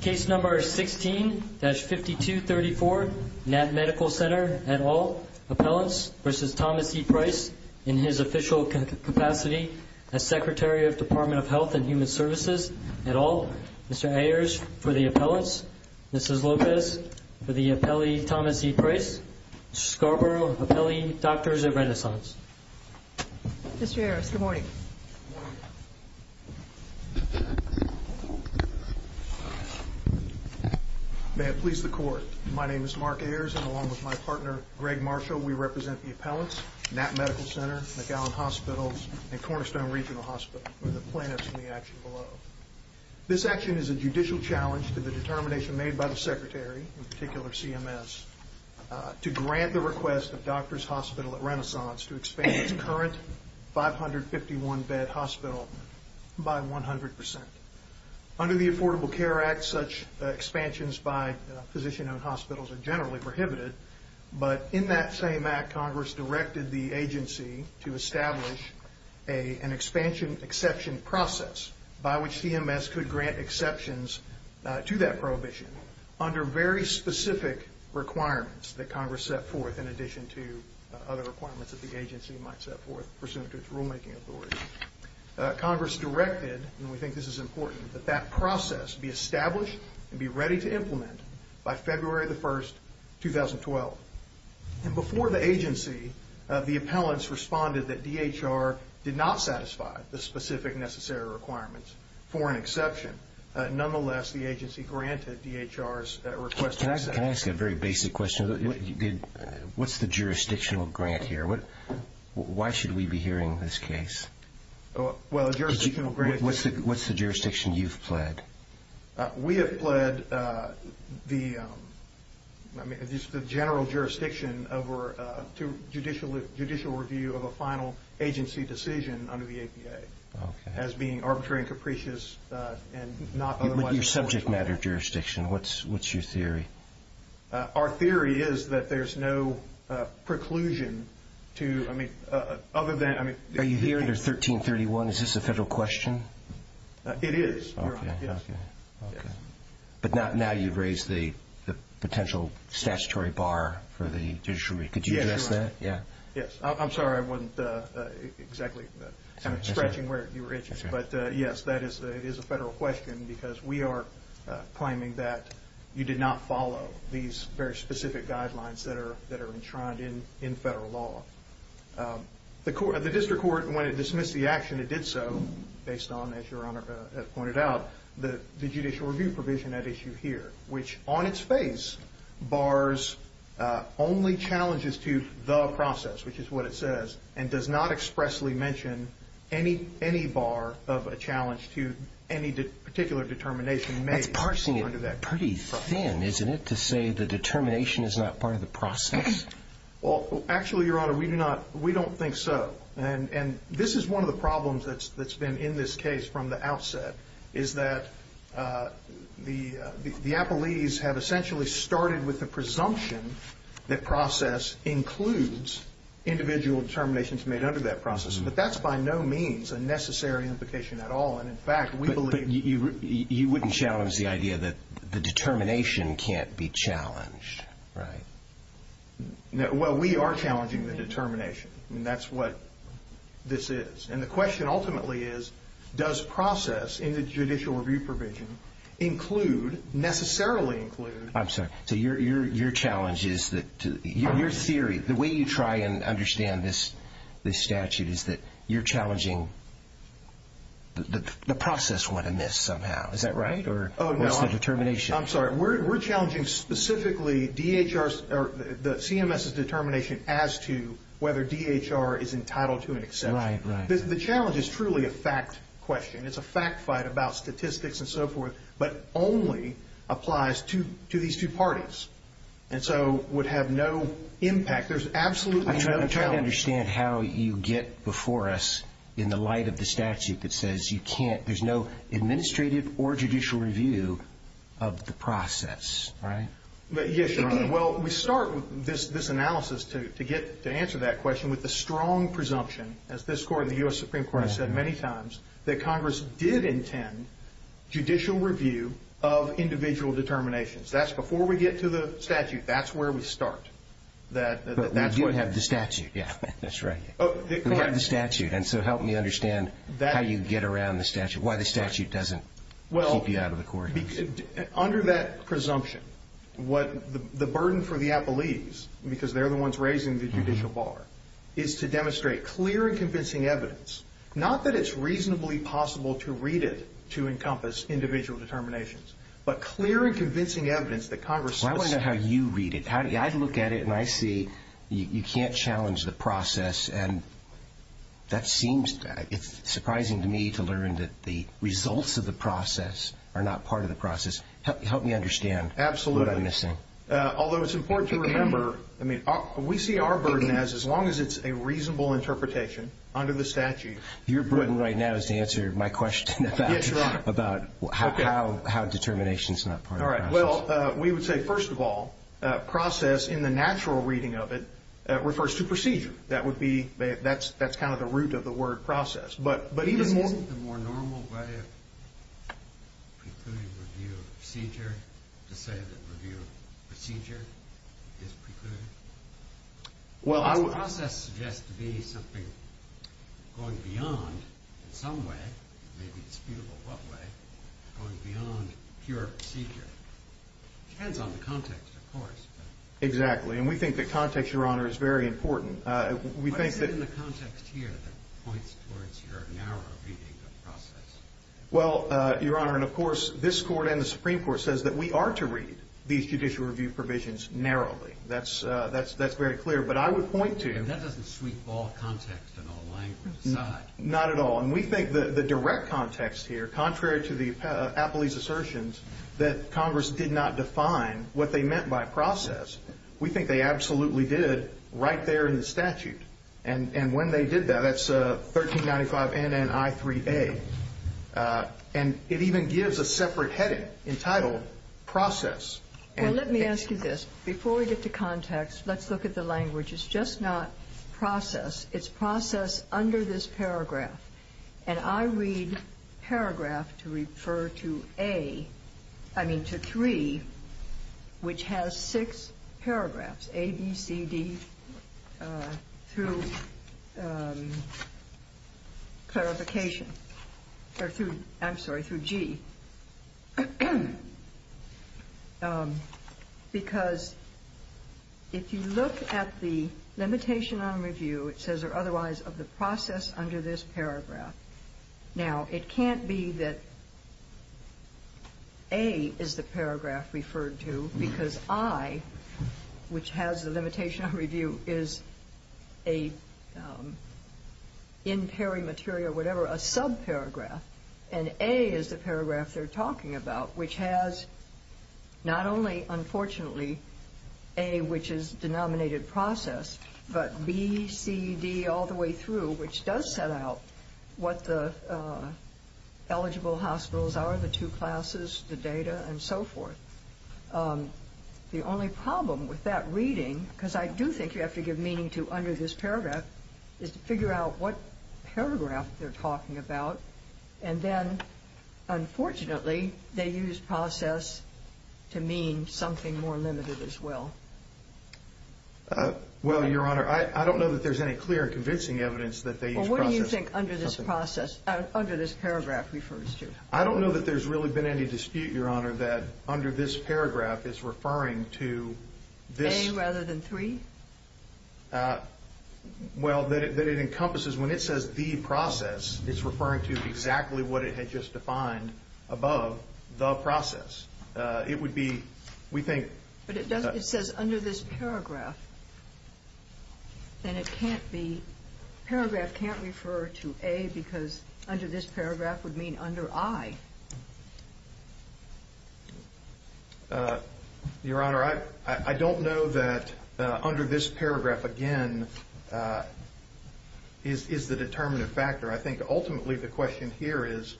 Case number 16-5234 Knapp Medical Center et al. Appellants v. Thomas E. Price in his official capacity as Secretary of Department of Health and Human Services et al. Mr. Ayers for the appellants. Mrs. Lopez for the appellee Thomas E. Price. Scarborough Appellee Doctors of Renaissance. Mr. Ayers, good morning. Good morning. May it please the Court, my name is Mark Ayers and along with my partner, Greg Marshall, we represent the appellants, Knapp Medical Center, McAllen Hospitals, and Cornerstone Regional Hospital. We're the plaintiffs in the action below. This action is a judicial challenge to the determination made by the Secretary, in particular CMS, to grant the request of Doctors Hospital at Renaissance to expand its current 551-bed hospital by 100%. Under the Affordable Care Act, such expansions by physician-owned hospitals are generally prohibited, but in that same act, Congress directed the agency to establish an expansion exception process by which CMS could grant exceptions to that prohibition under very specific requirements that Congress set forth in addition to other requirements that the agency might set forth pursuant to its rulemaking authority. Congress directed, and we think this is important, that that process be established and be ready to implement by February the 1st, 2012. And before the agency, the appellants responded that DHR did not satisfy the specific necessary requirements for an exception. Nonetheless, the agency granted DHR's request. Can I ask a very basic question? What's the jurisdictional grant here? Why should we be hearing this case? Well, a jurisdictional grant... What's the jurisdiction you've pled? We have pled the general jurisdiction over judicial review of a final agency decision under the APA as being arbitrary and capricious and not otherwise... Your subject matter jurisdiction, what's your theory? Our theory is that there's no preclusion to, I mean, other than... Are you here under 1331? Is this a federal question? It is, Your Honor. Okay. But now you've raised the potential statutory bar for the judicial review. Could you address that? Yes. I'm sorry I wasn't exactly stretching where you were at. But, yes, that is a federal question because we are claiming that you did not follow these very specific guidelines that are enshrined in federal law. The district court, when it dismissed the action, it did so based on, as Your Honor has pointed out, the judicial review provision at issue here, which on its face bars only challenges to the process, which is what it says, and does not expressly mention any bar of a challenge to any particular determination made under that process. That's parsing it pretty thin, isn't it, to say the determination is not part of the process? Well, actually, Your Honor, we do not. We don't think so. And this is one of the problems that's been in this case from the outset, is that the appellees have essentially started with the presumption that process includes individual determinations made under that process, but that's by no means a necessary implication at all. And, in fact, we believe that you wouldn't challenge the idea that the determination can't be challenged, right? Well, we are challenging the determination, and that's what this is. And the question ultimately is, does process in the judicial review provision include, necessarily include? I'm sorry. So your challenge is that your theory, the way you try and understand this statute, is that you're challenging the process went amiss somehow. Is that right, or what's the determination? I'm sorry. We're challenging specifically the CMS's determination as to whether DHR is entitled to an exception. Right, right. The challenge is truly a fact question. It's a fact fight about statistics and so forth, but only applies to these two parties, and so would have no impact. There's absolutely no challenge. I'm trying to understand how you get before us, in the light of the statute that says you can't, there's no administrative or judicial review of the process, right? Yes, Your Honor. Well, we start this analysis to answer that question with a strong presumption, as this Court and the U.S. Supreme Court have said many times, that Congress did intend judicial review of individual determinations. That's before we get to the statute. That's where we start. But we do have the statute, yeah. That's right. We have the statute, and so help me understand how you get around the statute, why the statute doesn't keep you out of the court. Under that presumption, the burden for the appellees, because they're the ones raising the judicial bar, is to demonstrate clear and convincing evidence, not that it's reasonably possible to read it to encompass individual determinations, but clear and convincing evidence that Congress does. Well, I want to know how you read it. I look at it, and I see you can't challenge the process, and that seems surprising to me to learn that the results of the process are not part of the process. Help me understand what I'm missing. Absolutely. Although it's important to remember, I mean, we see our burden as as long as it's a reasonable interpretation under the statute. Your burden right now is to answer my question about how does the statute, what are the determinations in that part of the process? All right. Well, we would say, first of all, process in the natural reading of it refers to procedure. That would be, that's kind of the root of the word process. But even more. Isn't the more normal way of precluding review of procedure to say that review of procedure is precluded? Well, I. The process suggests to be something going beyond in some way, maybe disputable what way, going beyond pure procedure. It depends on the context, of course. Exactly. And we think the context, Your Honor, is very important. We think that. What is it in the context here that points towards your narrow reading of process? Well, Your Honor, and, of course, this Court and the Supreme Court says that we are to read these judicial review provisions narrowly. That's very clear. But I would point to. And that doesn't sweep all context and all language aside. Not at all. And we think the direct context here, contrary to the Appley's assertions that Congress did not define what they meant by process, we think they absolutely did right there in the statute. And when they did that, that's 1395 NNI 3A. And it even gives a separate heading entitled process. Well, let me ask you this. Before we get to context, let's look at the language. It's just not process. It's process under this paragraph. And I read paragraph to refer to A, I mean, to 3, which has six paragraphs, A, B, C, D, through clarification. Or through, I'm sorry, through G. Because if you look at the limitation on review, it says, or otherwise, of the process under this paragraph. Now, it can't be that A is the paragraph referred to because I, which has the limitation on review is a in peri material, whatever, a subparagraph. And A is the paragraph they're talking about, which has not only, unfortunately, A, which is denominated process, but B, C, D, all the way through, which does set out what the eligible hospitals are, the two classes, the data, and so forth. The only problem with that reading, because I do think you have to give meaning to under this paragraph, is to figure out what paragraph they're talking about. And then, unfortunately, they use process to mean something more limited as well. Well, Your Honor, I don't know that there's any clear and convincing evidence that they use process. Well, what do you think under this paragraph refers to? I don't know that there's really been any dispute, Your Honor, that under this paragraph is referring to this. A rather than three? Well, that it encompasses, when it says the process, it's referring to exactly what it had just defined above the process. It would be, we think. But it says under this paragraph. Then it can't be, paragraph can't refer to A because under this paragraph would mean under I. Your Honor, I don't know that under this paragraph, again, is the determinative factor. I think, ultimately, the question here is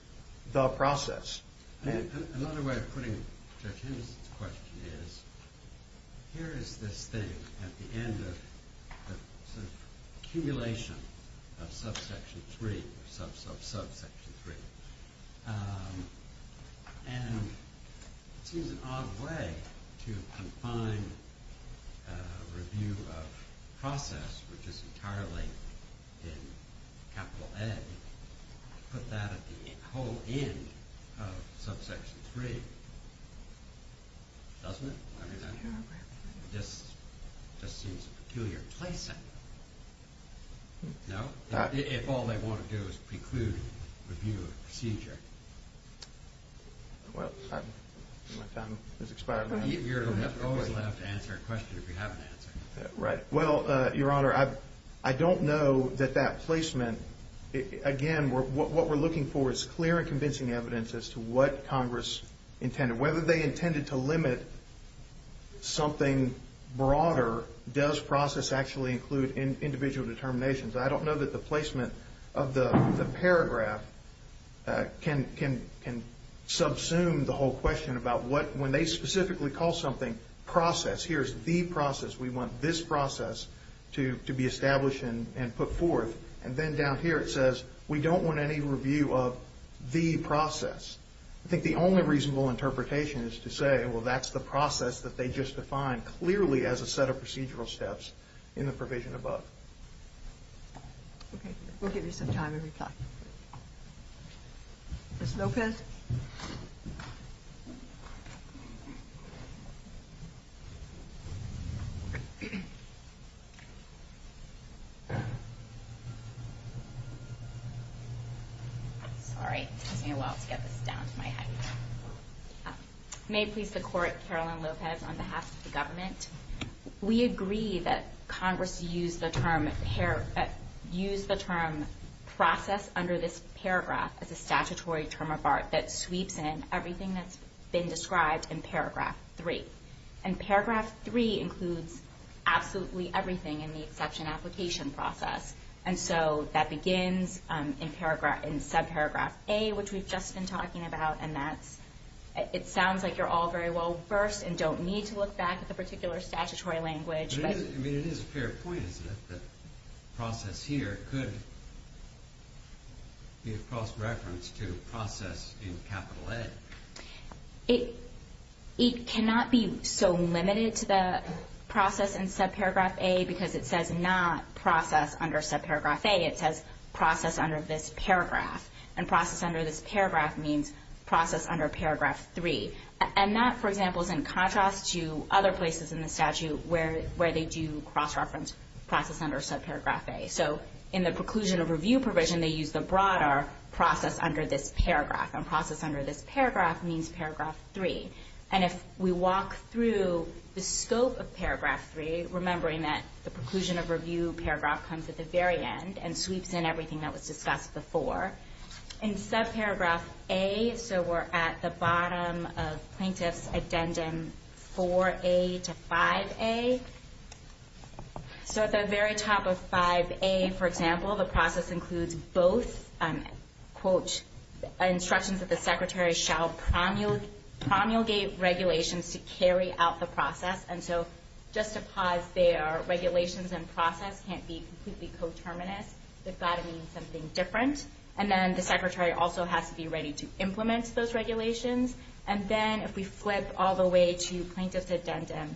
the process. Another way of putting Judge Henderson's question is, here is this thing at the end of the accumulation of subsection three, sub, sub, subsection three. And it seems an odd way to confine review of process, which is entirely in capital A, to put that at the whole end of subsection three. Doesn't it? I mean, that just seems a peculiar placing. No? If all they want to do is preclude review of procedure. Well, my time has expired. You're always allowed to answer a question if you have an answer. Right. Well, Your Honor, I don't know that that placement, again, what we're looking for is clear and convincing evidence as to what Congress intended. Whether they intended to limit something broader, does process actually include individual determinations? I don't know that the placement of the paragraph can subsume the whole question about what, when they specifically call something process, here's the process, we want this process to be established and put forth. And then down here it says, we don't want any review of the process. I think the only reasonable interpretation is to say, well, that's the process that they just defined clearly as a set of procedural steps in the provision above. Okay. We'll give you some time to reply. Ms. Lopez? Ms. Lopez? Sorry, it took me a while to get this down to my head. May it please the Court, Caroline Lopez, on behalf of the government, we agree that Congress used the term process under this paragraph as a statutory term of art that sweeps in everything that's been described in paragraph three. And paragraph three includes absolutely everything in the exception application process. And so that begins in subparagraph A, which we've just been talking about, and it sounds like you're all very well versed and don't need to look back at the particular statutory language. I mean, it is a fair point, isn't it, that process here could be a cross-reference to process in capital A. It cannot be so limited to the process in subparagraph A because it says not process under subparagraph A. It says process under this paragraph. And process under this paragraph means process under paragraph three. And that, for example, is in contrast to other places in the statute where they do cross-reference process under subparagraph A. So in the preclusion of review provision, they use the broader process under this paragraph. And process under this paragraph means paragraph three. And if we walk through the scope of paragraph three, remembering that the preclusion of review paragraph comes at the very end and sweeps in everything that was discussed before. In subparagraph A, so we're at the bottom of plaintiff's addendum 4A to 5A. So at the very top of 5A, for example, the process includes both, quote, instructions that the secretary shall promulgate regulations to carry out the process. And so just to pause there, regulations and process can't be completely coterminous. They've got to mean something different. And then the secretary also has to be ready to implement those regulations. And then if we flip all the way to plaintiff's addendum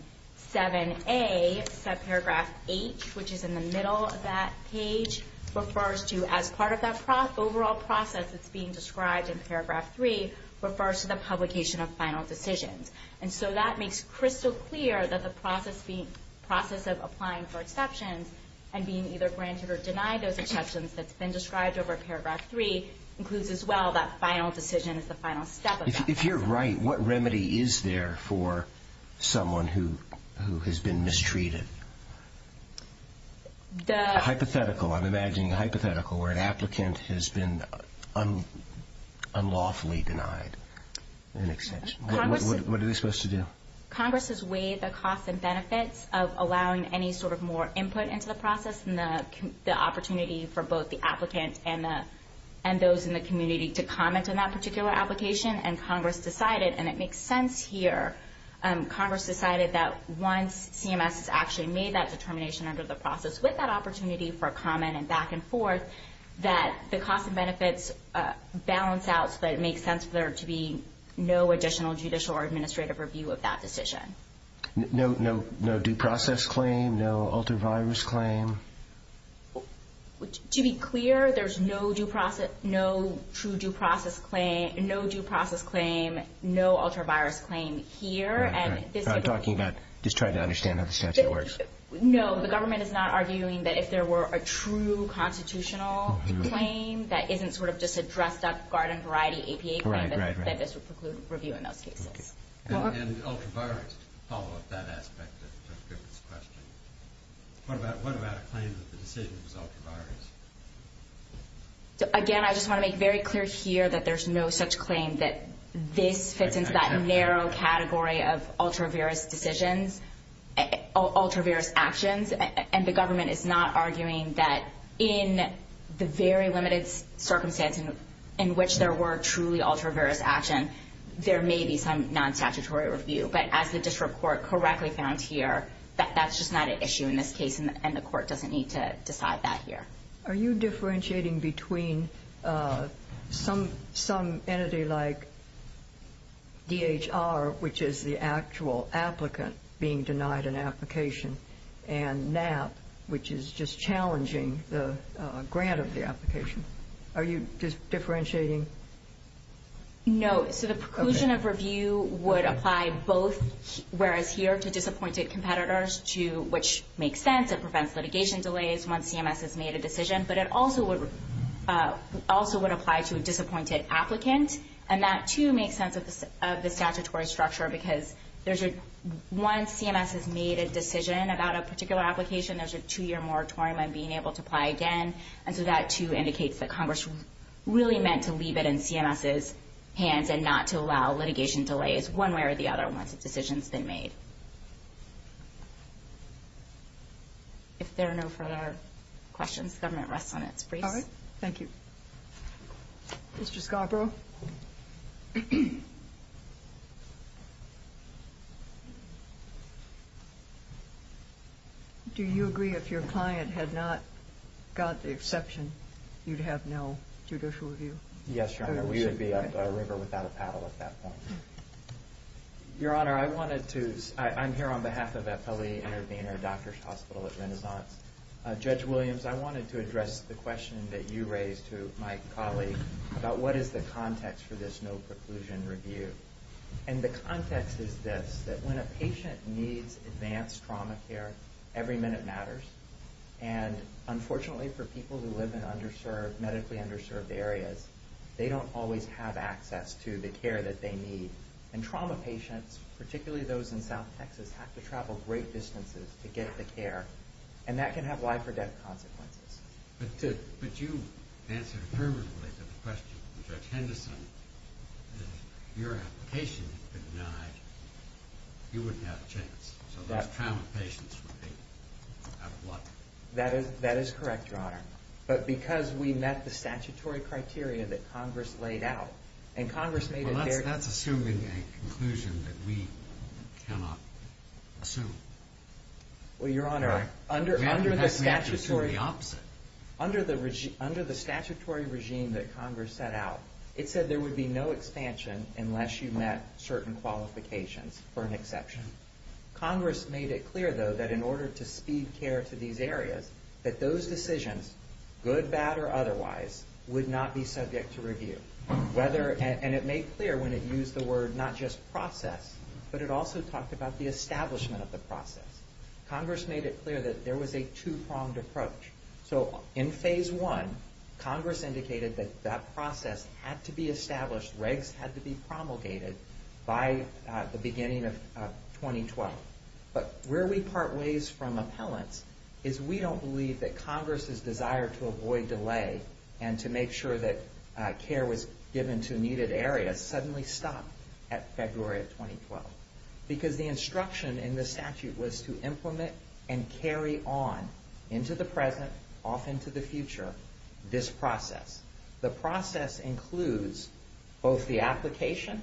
7A, subparagraph H, which is in the middle of that page, refers to as part of that overall process that's being described in paragraph three, refers to the publication of final decisions. And so that makes crystal clear that the process of applying for exceptions and being either granted or denied those exceptions that's been described over paragraph three includes as well that final decision is the final step of the process. If you're right, what remedy is there for someone who has been mistreated? A hypothetical. I'm imagining a hypothetical where an applicant has been unlawfully denied an exemption. What are they supposed to do? Congress has weighed the costs and benefits of allowing any sort of more input into the process and the opportunity for both the applicant and those in the community to comment on that particular application, and Congress decided, and it makes sense here, Congress decided that once CMS has actually made that determination under the process with that opportunity for comment and back and forth, that the costs and benefits balance out but it makes sense for there to be no additional judicial or administrative review of that decision. No due process claim, no ultra-virus claim? To be clear, there's no true due process claim, no ultra-virus claim here. I'm talking about just trying to understand how the statute works. No, the government is not arguing that if there were a true constitutional claim that isn't sort of just a dressed-up garden variety APA claim that this would preclude review in those cases. And ultra-virus, to follow up that aspect of Griffith's question, what about a claim that the decision was ultra-virus? Again, I just want to make very clear here that there's no such claim that this fits into that narrow category of ultra-virus decisions, ultra-virus actions, and the government is not arguing that in the very limited circumstance in which there were truly ultra-virus action, there may be some non-statutory review. But as the district court correctly found here, that's just not an issue in this case, and the court doesn't need to decide that here. Are you differentiating between some entity like DHR, which is the actual applicant being denied an application, and NAP, which is just challenging the grant of the application? Are you differentiating? No. So the preclusion of review would apply both whereas here to disappointed competitors, which makes sense. It prevents litigation delays once CMS has made a decision. But it also would apply to a disappointed applicant, and that, too, makes sense of the statutory structure because once CMS has made a decision about a particular application, there's a two-year moratorium on being able to apply again, and so that, too, indicates that Congress really meant to leave it in CMS's hands and not to allow litigation delays one way or the other once a decision has been made. If there are no further questions, the government rests on its brace. All right. Thank you. Mr. Scarborough? Do you agree if your client had not got the exception, you'd have no judicial review? Yes, Your Honor. We would be a river without a paddle at that point. Your Honor, I'm here on behalf of FLE Intervenor Doctors' Hospital at Renaissance. Judge Williams, I wanted to address the question that you raised to my colleague about what is the context for this no-preclusion review. And the context is this, that when a patient needs advanced trauma care, every minute matters. And unfortunately for people who live in medically underserved areas, they don't always have access to the care that they need. And trauma patients, particularly those in South Texas, have to travel great distances to get the care. And that can have life-or-death consequences. But you answered affirmatively to the question from Judge Henderson that if your application had been denied, you wouldn't have a chance. So those trauma patients would be out of luck. That is correct, Your Honor. But because we met the statutory criteria that Congress laid out, Well, that's assuming a conclusion that we cannot assume. Well, Your Honor, under the statutory regime that Congress set out, it said there would be no expansion unless you met certain qualifications, for an exception. Congress made it clear, though, that in order to speed care to these areas, that those decisions, good, bad, or otherwise, would not be subject to review. And it made clear when it used the word not just process, but it also talked about the establishment of the process. Congress made it clear that there was a two-pronged approach. So in Phase 1, Congress indicated that that process had to be established, regs had to be promulgated, by the beginning of 2012. But where we part ways from appellants is we don't believe that Congress's desire to avoid delay and to make sure that care was given to needed areas suddenly stopped at February of 2012. Because the instruction in the statute was to implement and carry on, into the present, off into the future, this process. The process includes both the application,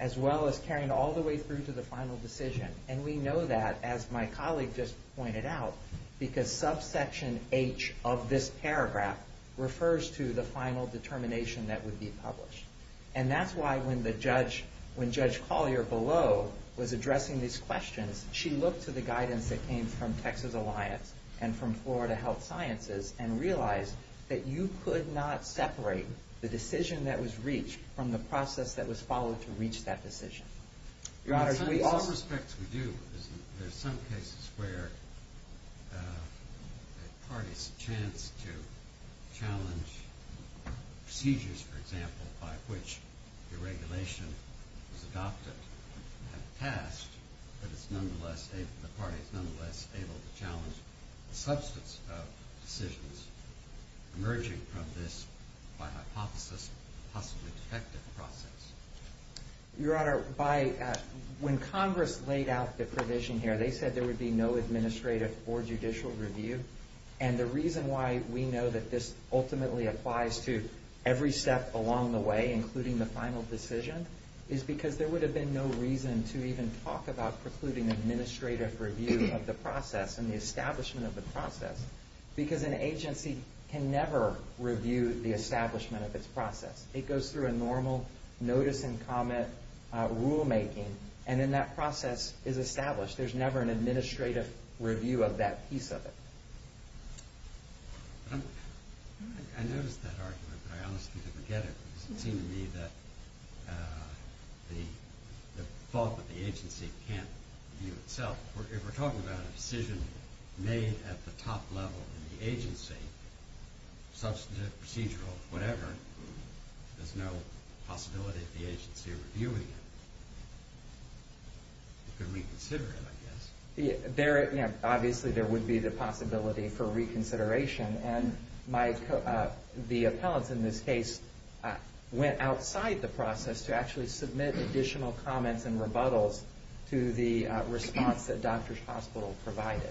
as well as carrying all the way through to the final decision. And we know that, as my colleague just pointed out, because subsection H of this paragraph refers to the final determination that would be published. And that's why when Judge Collier below was addressing these questions, she looked to the guidance that came from Texas Alliance and from Florida Health Sciences, and realized that you could not separate the decision that was reached from the process that was followed to reach that decision. In some respects, we do. There are some cases where a party's chance to challenge procedures, for example, by which the regulation was adopted and passed, but the party is nonetheless able to challenge the substance of decisions emerging from this, by hypothesis, possibly defective process. Your Honor, when Congress laid out the provision here, they said there would be no administrative or judicial review. And the reason why we know that this ultimately applies to every step along the way, including the final decision, is because there would have been no reason to even talk about precluding administrative review of the process and the establishment of the process. Because an agency can never review the establishment of its process. It goes through a normal notice and comment rulemaking, and then that process is established. There's never an administrative review of that piece of it. I noticed that argument, but I honestly didn't get it, because it seemed to me that the fault with the agency can't review itself. If we're talking about a decision made at the top level in the agency, substantive, procedural, whatever, there's no possibility of the agency reviewing it. It could reconsider it, I guess. Obviously, there would be the possibility for reconsideration, and the appellants in this case went outside the process to actually submit additional comments and rebuttals to the response that Doctors Hospital provided.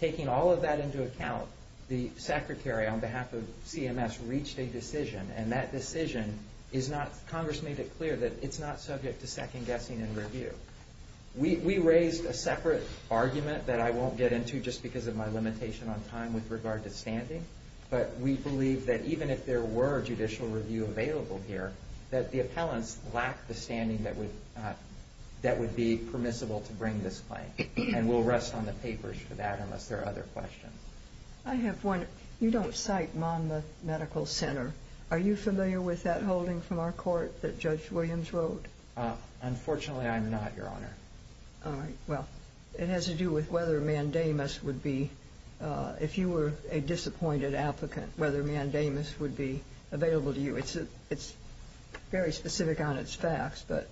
Taking all of that into account, the secretary on behalf of CMS reached a decision, and that decision is not, Congress made it clear that it's not subject to second-guessing and review. We raised a separate argument that I won't get into just because of my limitation on time with regard to standing, but we believe that even if there were judicial review available here, that the appellants lack the standing that would be permissible to bring this claim, and we'll rest on the papers for that unless there are other questions. I have one. You don't cite Monmouth Medical Center. Are you familiar with that holding from our court that Judge Williams wrote? Unfortunately, I'm not, Your Honor. All right. Well, it has to do with whether Mandamus would be, if you were a disappointed applicant, whether Mandamus would be available to you. It's very specific on its facts, but...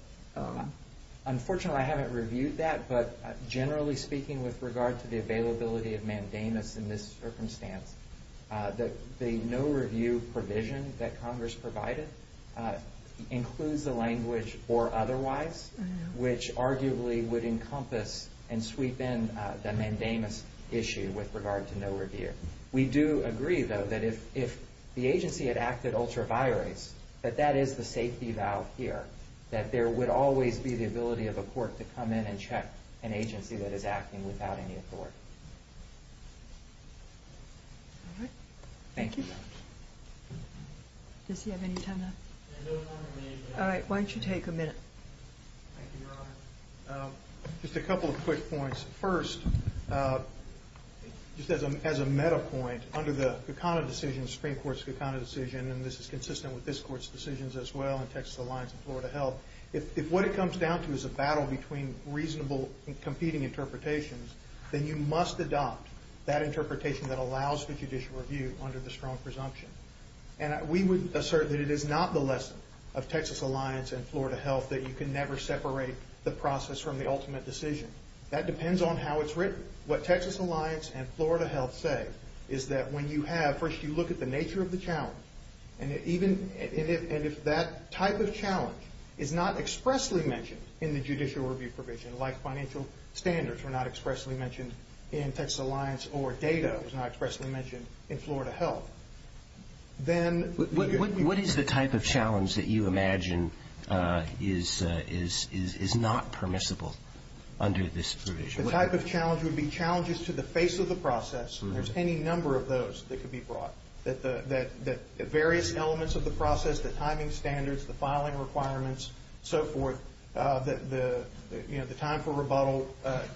Generally speaking, with regard to the availability of Mandamus in this circumstance, the no-review provision that Congress provided includes the language, or otherwise, which arguably would encompass and sweep in the Mandamus issue with regard to no review. We do agree, though, that if the agency had acted ultra vires, that that is the safety valve here, that there would always be the ability of a court to come in and check an agency that is acting without any authority. All right. Thank you. Does he have any time left? All right. Why don't you take a minute? Thank you, Your Honor. Just a couple of quick points. First, just as a meta point, under the Kekana decision, Supreme Court's Kekana decision, and this is consistent with this Court's decisions as well in Texas Alliance and Florida Health, if what it comes down to is a battle between reasonable and competing interpretations, then you must adopt that interpretation that allows for judicial review under the strong presumption. We would assert that it is not the lesson of Texas Alliance and Florida Health that you can never separate the process from the ultimate decision. That depends on how it's written. What Texas Alliance and Florida Health say is that when you have, first you look at the nature of the challenge, and if that type of challenge is not expressly mentioned in the judicial review provision, like financial standards were not expressly mentioned in Texas Alliance or data was not expressly mentioned in Florida Health, then... What is the type of challenge that you imagine is not permissible under this provision? The type of challenge would be challenges to the face of the process, and there's any number of those that could be brought, that the various elements of the process, the timing standards, the filing requirements, so forth, the time for rebuttal,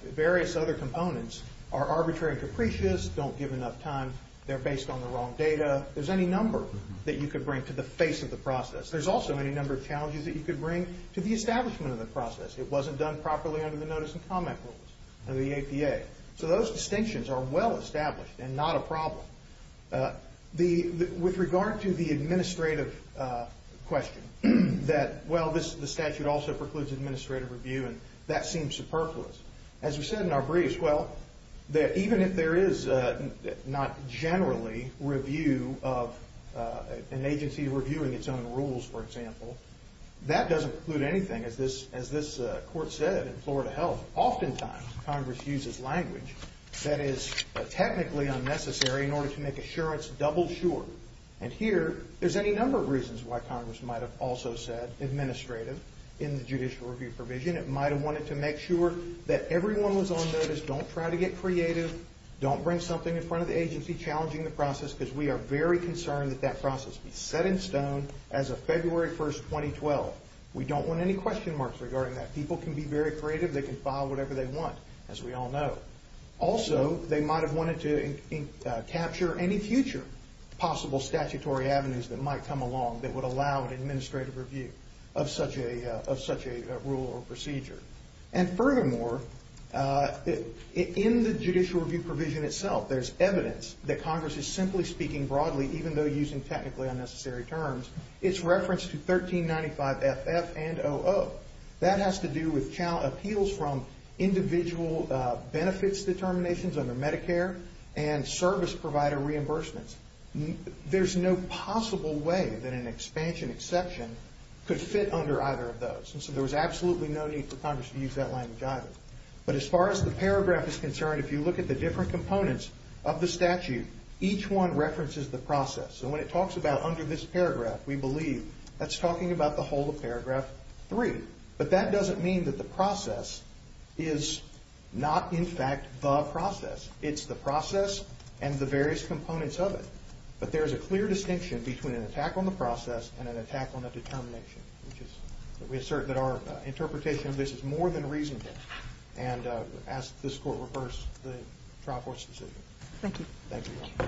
various other components are arbitrary and capricious, don't give enough time, they're based on the wrong data. There's any number that you could bring to the face of the process. There's also any number of challenges that you could bring to the establishment of the process. It wasn't done properly under the notice and comment rules of the APA. So those distinctions are well established and not a problem. With regard to the administrative question, that, well, the statute also precludes administrative review, and that seems superfluous. As we said in our briefs, well, even if there is not generally review of an agency reviewing its own rules, for example, that doesn't preclude anything, as this court said in Florida Health. But oftentimes Congress uses language that is technically unnecessary in order to make assurance double sure. And here there's any number of reasons why Congress might have also said administrative in the judicial review provision. It might have wanted to make sure that everyone was on notice, don't try to get creative, don't bring something in front of the agency challenging the process, because we are very concerned that that process be set in stone as of February 1, 2012. We don't want any question marks regarding that. People can be very creative. They can file whatever they want, as we all know. Also, they might have wanted to capture any future possible statutory avenues that might come along that would allow an administrative review of such a rule or procedure. And furthermore, in the judicial review provision itself, there's evidence that Congress is simply speaking broadly even though using technically unnecessary terms. It's referenced to 1395 FF and 00. That has to do with appeals from individual benefits determinations under Medicare and service provider reimbursements. There's no possible way that an expansion exception could fit under either of those. And so there was absolutely no need for Congress to use that language either. But as far as the paragraph is concerned, if you look at the different components of the statute, each one references the process. So when it talks about under this paragraph, we believe that's talking about the whole of paragraph 3. But that doesn't mean that the process is not, in fact, the process. It's the process and the various components of it. But there's a clear distinction between an attack on the process and an attack on the determination. We assert that our interpretation of this is more than reasonable, and ask that this Court reverse the trial court's decision. Thank you.